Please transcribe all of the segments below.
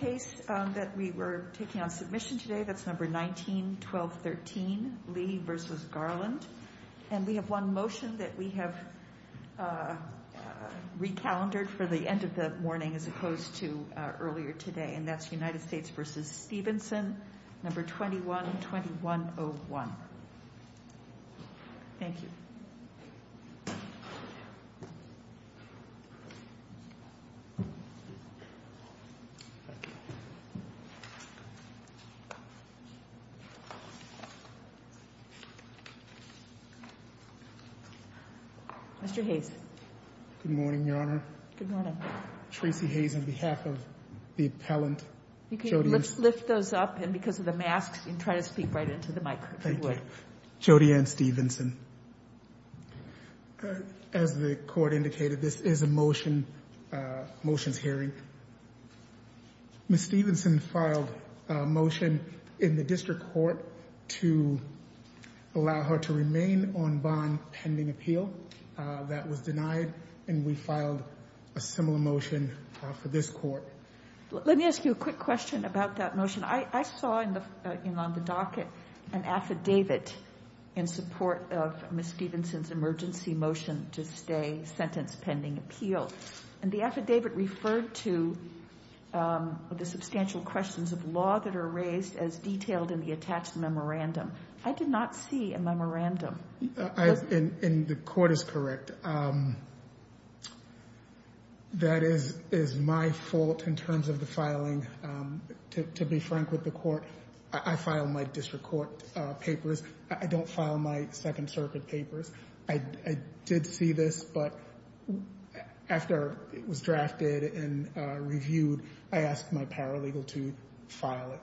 21-2101 Mr. Hayes. Good morning, Your Honor. Good morning. Tracy Hayes on behalf of the appellant. You can lift those up, and because of the masks, you can try to speak right into the mic, if you would. Thank you. Jody Ann Stephenson. As the Court indicated, this is a motions hearing. Ms. Stephenson filed a motion in the District Court to allow her to remain on bond pending appeal. That was denied, and we filed a similar motion for this Court. Let me ask you a quick question about that motion. I saw on the docket an affidavit in support of Ms. Stephenson's emergency motion to stay sentence pending appeal. And the affidavit referred to the substantial questions of law that are raised as detailed in the attached memorandum. I did not see a memorandum. And the Court is correct. That is my fault in terms of the filing. To be frank with the Court, I file my District Court papers. I don't file my Second Circuit papers. I did see this, but after it was drafted and reviewed, I asked my paralegal to file it.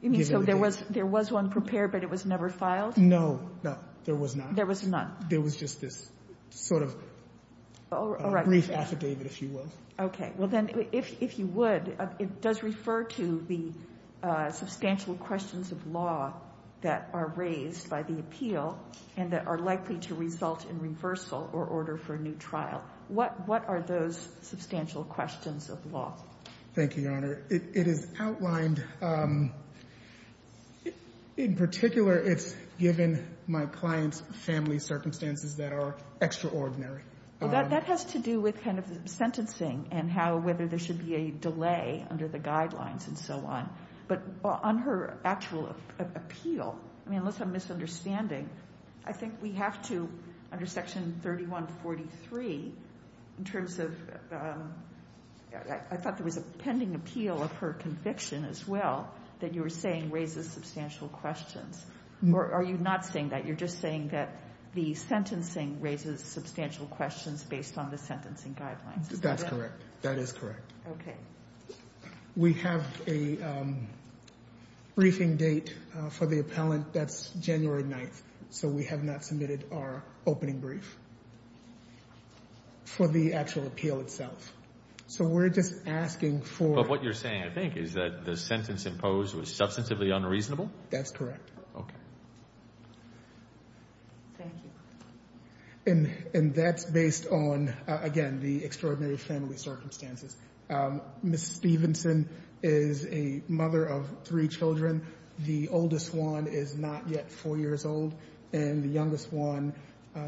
You mean so there was one prepared, but it was never filed? No. No, there was not. There was none. There was just this sort of brief affidavit, if you will. Okay. Well, then, if you would, it does refer to the substantial questions of law that are raised by the appeal and that are likely to result in reversal or order for a new trial. What are those substantial questions of law? Thank you, Your Honor. It is outlined. In particular, it's given my client's family circumstances that are extraordinary. Well, that has to do with kind of sentencing and how whether there should be a delay under the guidelines and so on. But on her actual appeal, I mean, unless I'm misunderstanding, I think we have to, under Section 3143, in terms of I thought there was a pending appeal of her conviction as well that you were saying raises substantial questions. Or are you not saying that? You're just saying that the sentencing raises substantial questions based on the sentencing guidelines. That's correct. That is correct. Okay. We have a briefing date for the appellant. That's January 9th. So we have not submitted our opening brief for the actual appeal itself. So we're just asking for – But what you're saying, I think, is that the sentence imposed was substantively unreasonable? That's correct. Okay. Thank you. And that's based on, again, the extraordinary family circumstances. Ms. Stevenson is a mother of three children. The oldest one is not yet 4 years old, and the youngest one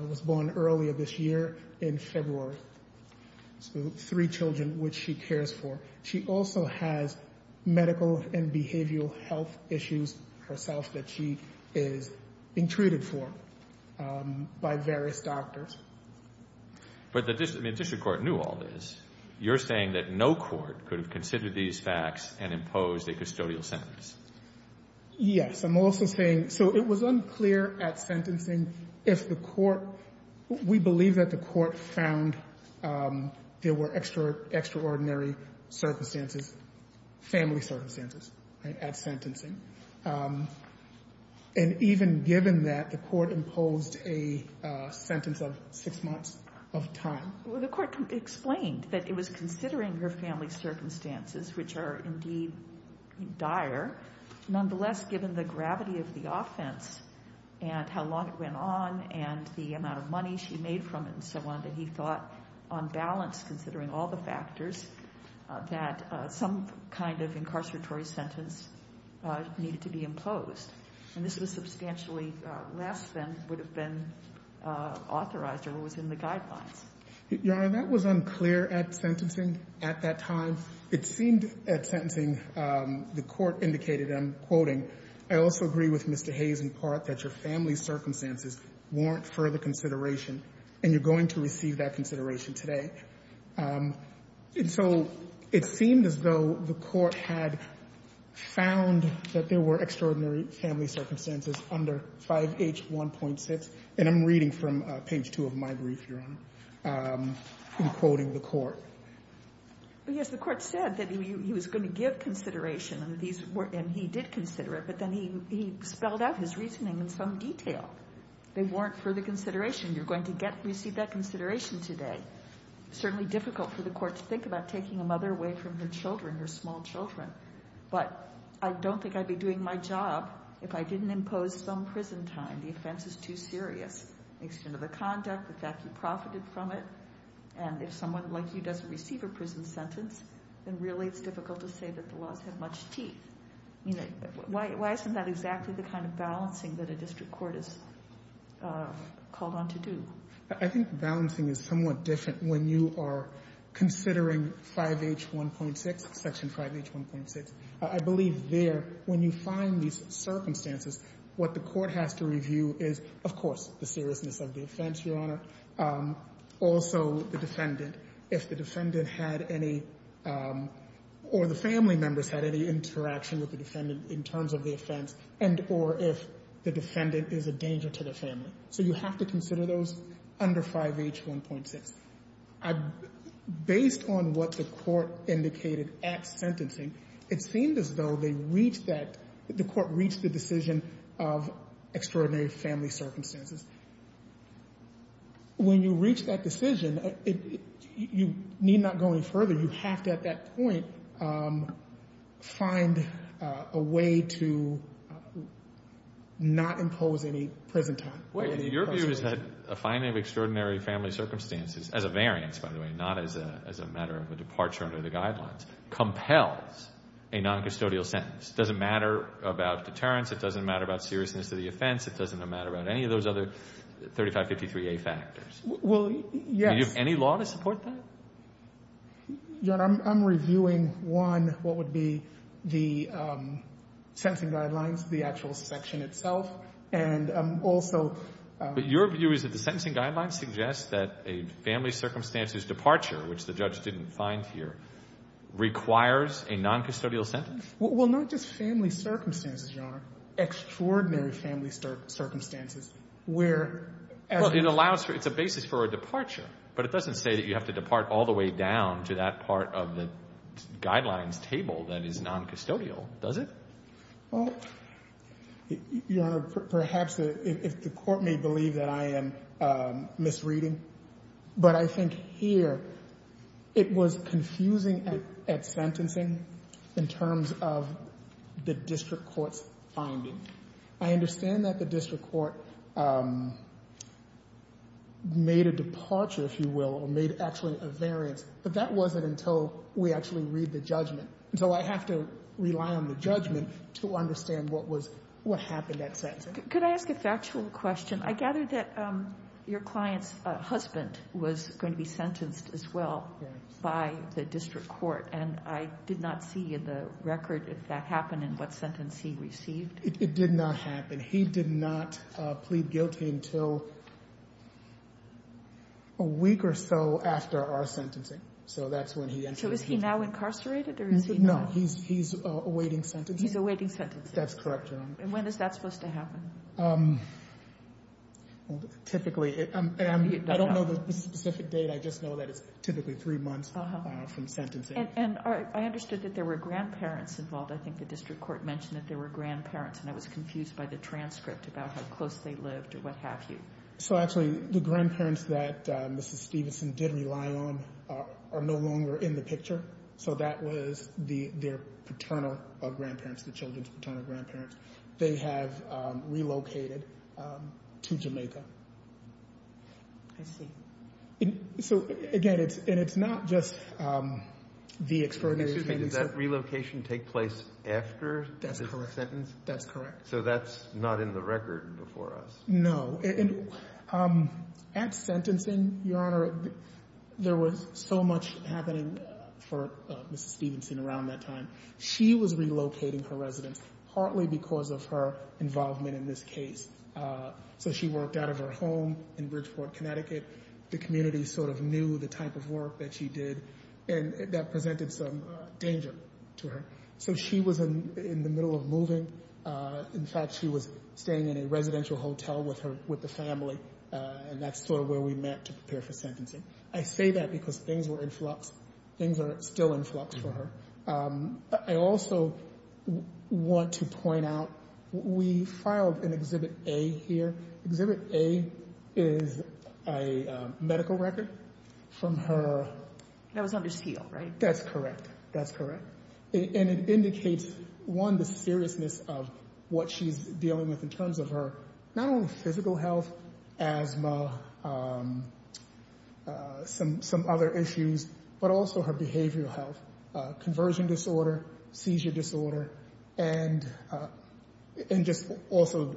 was born earlier this year in February. So three children, which she cares for. She also has medical and behavioral health issues herself that she is being treated for by various doctors. But the district court knew all this. You're saying that no court could have considered these facts and imposed a custodial sentence. Yes. I'm also saying – so it was unclear at sentencing if the court – there were extraordinary circumstances, family circumstances at sentencing. And even given that, the court imposed a sentence of 6 months of time. Well, the court explained that it was considering her family circumstances, which are indeed dire. Nonetheless, given the gravity of the offense and how long it went on and the amount of money she made from it and so on, that he thought on balance, considering all the factors, that some kind of incarceratory sentence needed to be imposed. And this was substantially less than would have been authorized or was in the guidelines. Your Honor, that was unclear at sentencing at that time. It seemed at sentencing the court indicated, and I'm quoting, I also agree with Mr. Hayes in part that your family circumstances warrant further consideration, and you're going to receive that consideration today. And so it seemed as though the court had found that there were extraordinary family circumstances under 5H1.6. And I'm reading from page 2 of my brief, Your Honor, in quoting the court. But, yes, the court said that he was going to give consideration, and he did consider it, but then he spelled out his reasoning in some detail. They warrant further consideration. You're going to receive that consideration today. Certainly difficult for the court to think about taking a mother away from her children, her small children. But I don't think I'd be doing my job if I didn't impose some prison time. The offense is too serious. The extent of the conduct, the fact you profited from it. And if someone like you doesn't receive a prison sentence, then really it's difficult to say that the laws have much teeth. Why isn't that exactly the kind of balancing that a district court is called on to do? I think balancing is somewhat different when you are considering 5H1.6, Section 5H1.6. I believe there, when you find these circumstances, what the court has to review is, of course, the seriousness of the offense, Your Honor. Also, the defendant, if the defendant had any, or the family members had any interaction with the defendant in terms of the offense, and or if the defendant is a danger to the family. So you have to consider those under 5H1.6. Based on what the court indicated at sentencing, it seemed as though they reached that, the court reached the decision of extraordinary family circumstances. When you reach that decision, you need not go any further. You have to, at that point, find a way to not impose any prison time. Your view is that a finding of extraordinary family circumstances, as a variance, by the way, not as a matter of a departure under the guidelines, compels a noncustodial sentence. It doesn't matter about deterrence. It doesn't matter about seriousness of the offense. It doesn't matter about any of those other 3553A factors. Well, yes. Do you have any law to support that? Your Honor, I'm reviewing, one, what would be the sentencing guidelines, the actual section itself, and also But your view is that the sentencing guidelines suggest that a family circumstances departure, which the judge didn't find here, requires a noncustodial sentence? Well, not just family circumstances, Your Honor. Extraordinary family circumstances, where as Well, it allows for, it's a basis for a departure. But it doesn't say that you have to depart all the way down to that part of the guidelines table that is noncustodial, does it? Well, Your Honor, perhaps the, if the court may believe that I am misreading. But I think here it was confusing at sentencing in terms of the district court's finding. I understand that the district court made a departure, if you will, or made actually a variance. But that wasn't until we actually read the judgment. So I have to rely on the judgment to understand what was, what happened at sentencing. Could I ask a factual question? I gather that your client's husband was going to be sentenced as well by the district court. And I did not see in the record if that happened and what sentence he received. It did not happen. He did not plead guilty until a week or so after our sentencing. So that's when he entered. So is he now incarcerated, or is he not? No, he's awaiting sentencing. He's awaiting sentencing. That's correct, Your Honor. And when is that supposed to happen? Typically, I don't know the specific date. I just know that it's typically three months from sentencing. And I understood that there were grandparents involved. I think the district court mentioned that there were grandparents, and I was confused by the transcript about how close they lived or what have you. So actually, the grandparents that Mrs. Stevenson did rely on are no longer in the picture. So that was their paternal grandparents, the children's paternal grandparents. They have relocated to Jamaica. I see. So, again, and it's not just the expert. Excuse me, does that relocation take place after the sentence? That's correct. So that's not in the record before us? No. At sentencing, Your Honor, there was so much happening for Mrs. Stevenson around that time. She was relocating her residence partly because of her involvement in this case. So she worked out of her home in Bridgeport, Connecticut. The community sort of knew the type of work that she did, and that presented some danger to her. So she was in the middle of moving. In fact, she was staying in a residential hotel with the family, and that's sort of where we met to prepare for sentencing. I say that because things were in flux. Things are still in flux for her. I also want to point out we filed an Exhibit A here. Exhibit A is a medical record from her. That was under seal, right? That's correct. That's correct. And it indicates, one, the seriousness of what she's dealing with in terms of her not only physical health, asthma, some other issues, but also her behavioral health, conversion disorder, seizure disorder, and just also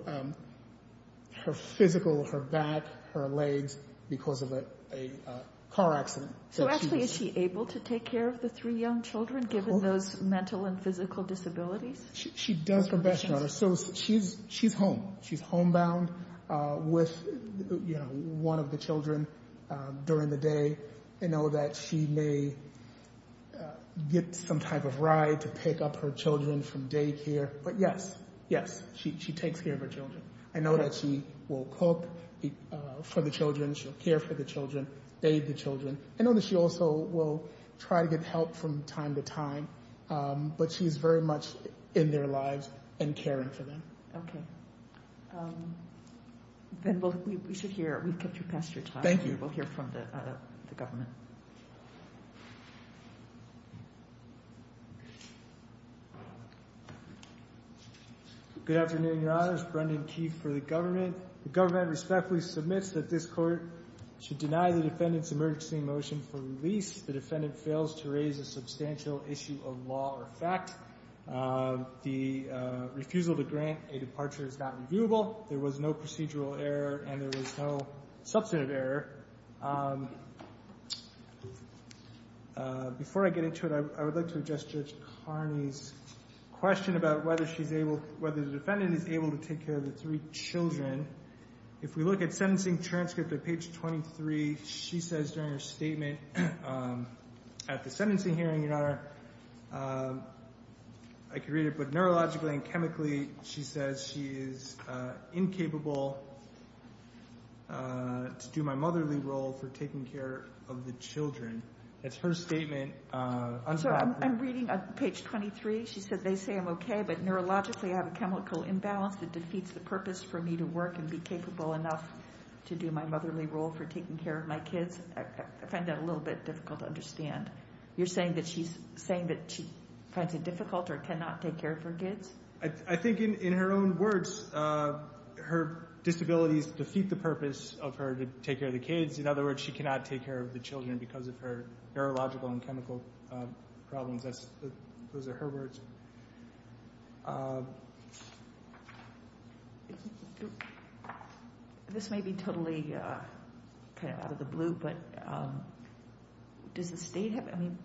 her physical, her back, her legs, because of a car accident. So actually, is she able to take care of the three young children, given those mental and physical disabilities? She does her best, Your Honor. So she's home. She's homebound with one of the children during the day. I know that she may get some type of ride to pick up her children from daycare. But yes, yes, she takes care of her children. I know that she will cook for the children. She'll care for the children, aid the children. I know that she also will try to get help from time to time. But she is very much in their lives and caring for them. Okay. Then we should hear. We've kept you past your time. Thank you. We'll hear from the government. Good afternoon, Your Honors. Brendan Keith for the government. The government respectfully submits that this Court should deny the defendant's emergency motion for release. The defendant fails to raise a substantial issue of law or fact. The refusal to grant a departure is not reviewable. There was no procedural error, and there was no substantive error. Before I get into it, I would like to address Judge Carney's question about whether she's able, whether the defendant is able to take care of the three children. If we look at sentencing transcript at page 23, she says during her statement at the sentencing hearing, Your Honor, I could read it, but neurologically and chemically, she says she is incapable to do my motherly role for taking care of the children. That's her statement. I'm reading page 23. She says they say I'm okay, but neurologically I have a chemical imbalance that defeats the purpose for me to work and be capable enough to do my motherly role for taking care of my kids. I find that a little bit difficult to understand. You're saying that she's saying that she finds it difficult or cannot take care of her kids? I think in her own words, her disabilities defeat the purpose of her to take care of the kids. In other words, she cannot take care of the children because of her neurological and chemical problems. Those are her words. This may be totally out of the blue, but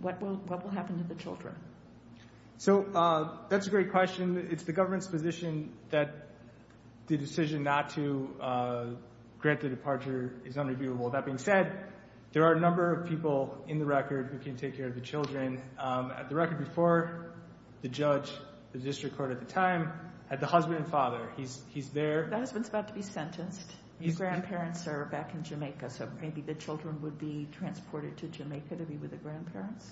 what will happen to the children? That's a great question. It's the government's position that the decision not to grant the departure is unreviewable. That being said, there are a number of people in the record who can take care of the children. At the record before, the judge, the district court at the time, had the husband and father. He's there. That husband's about to be sentenced. His grandparents are back in Jamaica, so maybe the children would be transported to Jamaica to be with the grandparents.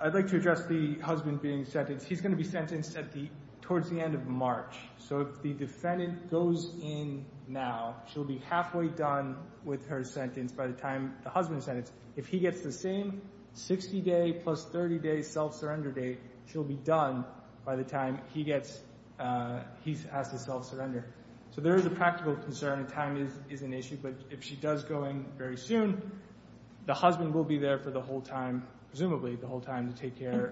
I'd like to address the husband being sentenced. He's going to be sentenced towards the end of March. If the defendant goes in now, she'll be halfway done with her sentence by the time the husband is sentenced. If he gets the same 60-day plus 30-day self-surrender date, she'll be done by the time he has to self-surrender. So there is a practical concern, and time is an issue. But if she does go in very soon, the husband will be there for the whole time, presumably the whole time, to take care.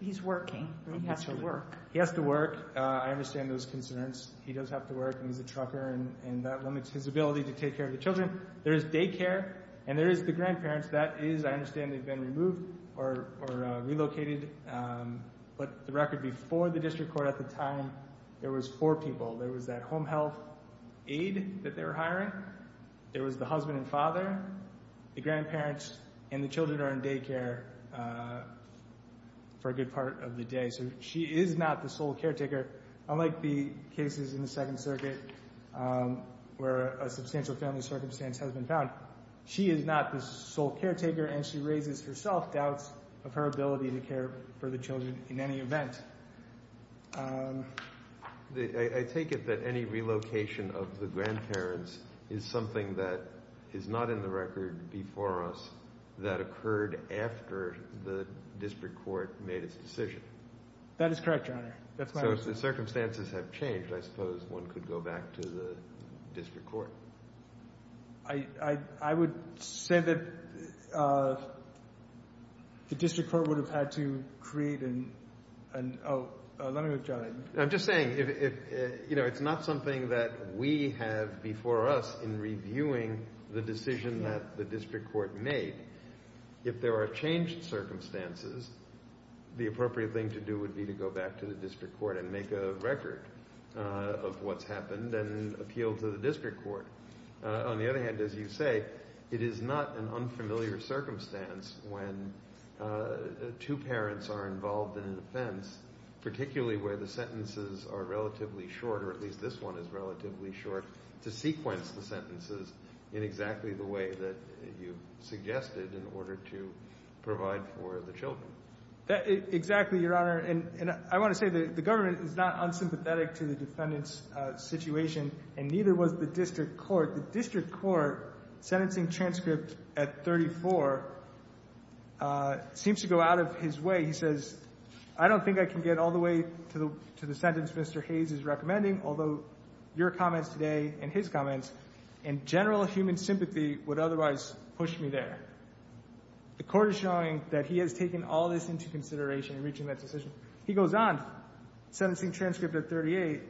He's working. He has to work. He has to work. I understand those concerns. He does have to work, and he's a trucker, and that limits his ability to take care of the children. There is daycare, and there is the grandparents. That is, I understand, they've been removed or relocated. But the record before the district court at the time, there was four people. There was that home health aide that they were hiring. There was the husband and father, the grandparents, and the children are in daycare for a good part of the day. So she is not the sole caretaker. Unlike the cases in the Second Circuit where a substantial family circumstance has been found, she is not the sole caretaker, and she raises herself doubts of her ability to care for the children in any event. I take it that any relocation of the grandparents is something that is not in the record before us that occurred after the district court made its decision. That is correct, Your Honor. That's my understanding. So if the circumstances have changed, I suppose one could go back to the district court. I would say that the district court would have had to create an—oh, let me go to John. I'm just saying, you know, it's not something that we have before us in reviewing the decision that the district court made. If there are changed circumstances, the appropriate thing to do would be to go back to the district court and make a record of what's happened and appeal to the district court. On the other hand, as you say, it is not an unfamiliar circumstance when two parents are involved in an offense, particularly where the sentences are relatively short, or at least this one is relatively short, to sequence the sentences in exactly the way that you suggested in order to provide for the children. Exactly, Your Honor. And I want to say that the government is not unsympathetic to the defendant's situation, and neither was the district court. The district court, sentencing transcript at 34, seems to go out of his way. He says, I don't think I can get all the way to the sentence Mr. Hayes is recommending, although your comments today and his comments and general human sympathy would otherwise push me there. The court is showing that he has taken all this into consideration in reaching that decision. He goes on, sentencing transcript at 38,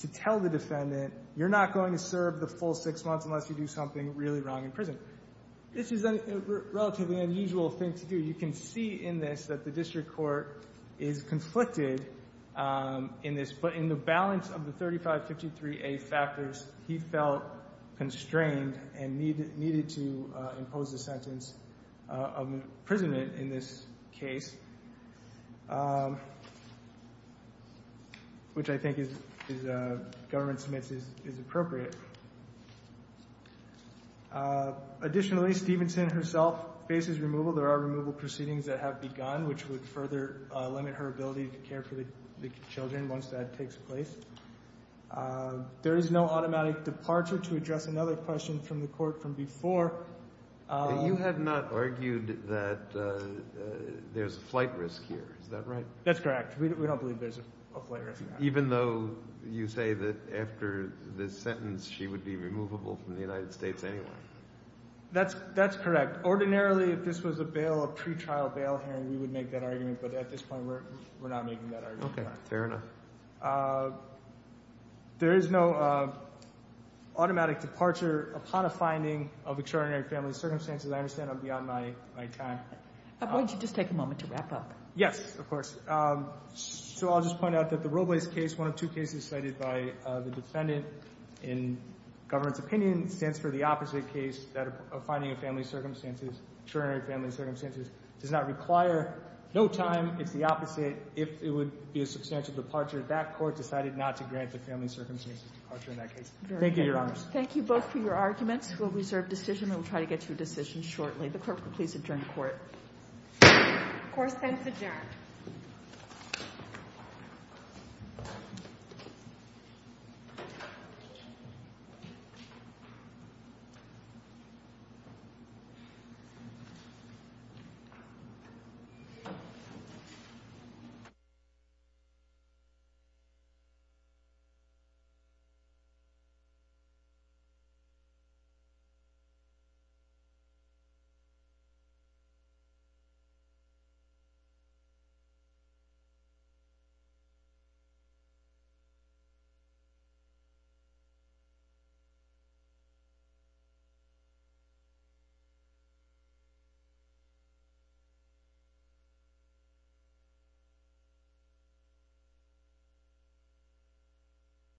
to tell the defendant, you're not going to serve the full six months unless you do something really wrong in prison. This is a relatively unusual thing to do. You can see in this that the district court is conflicted in this, in the balance of the 3553A factors, he felt constrained and needed to impose the sentence of imprisonment in this case, which I think the government submits is appropriate. Additionally, Stephenson herself faces removal. There are removal proceedings that have begun, which would further limit her ability to care for the children once that takes place. There is no automatic departure to address another question from the court from before. You have not argued that there's a flight risk here. Is that right? That's correct. We don't believe there's a flight risk here. Even though you say that after this sentence she would be removable from the United States anyway. That's correct. Ordinarily, if this was a bail, a pretrial bail hearing, we would make that argument. But at this point, we're not making that argument. Okay. Fair enough. There is no automatic departure upon a finding of extraordinary family circumstances. I understand I'm beyond my time. Why don't you just take a moment to wrap up? Yes, of course. So I'll just point out that the Robles case, one of two cases cited by the defendant in government's opinion, stands for the opposite case of finding of family circumstances, extraordinary family circumstances. It does not require no time. It's the opposite. If it would be a substantial departure, that court decided not to grant the family circumstances departure in that case. Thank you, Your Honors. Thank you both for your arguments. We'll reserve decision and we'll try to get to a decision shortly. The clerk will please adjourn the court. Court is adjourned. Thank you. Thank you.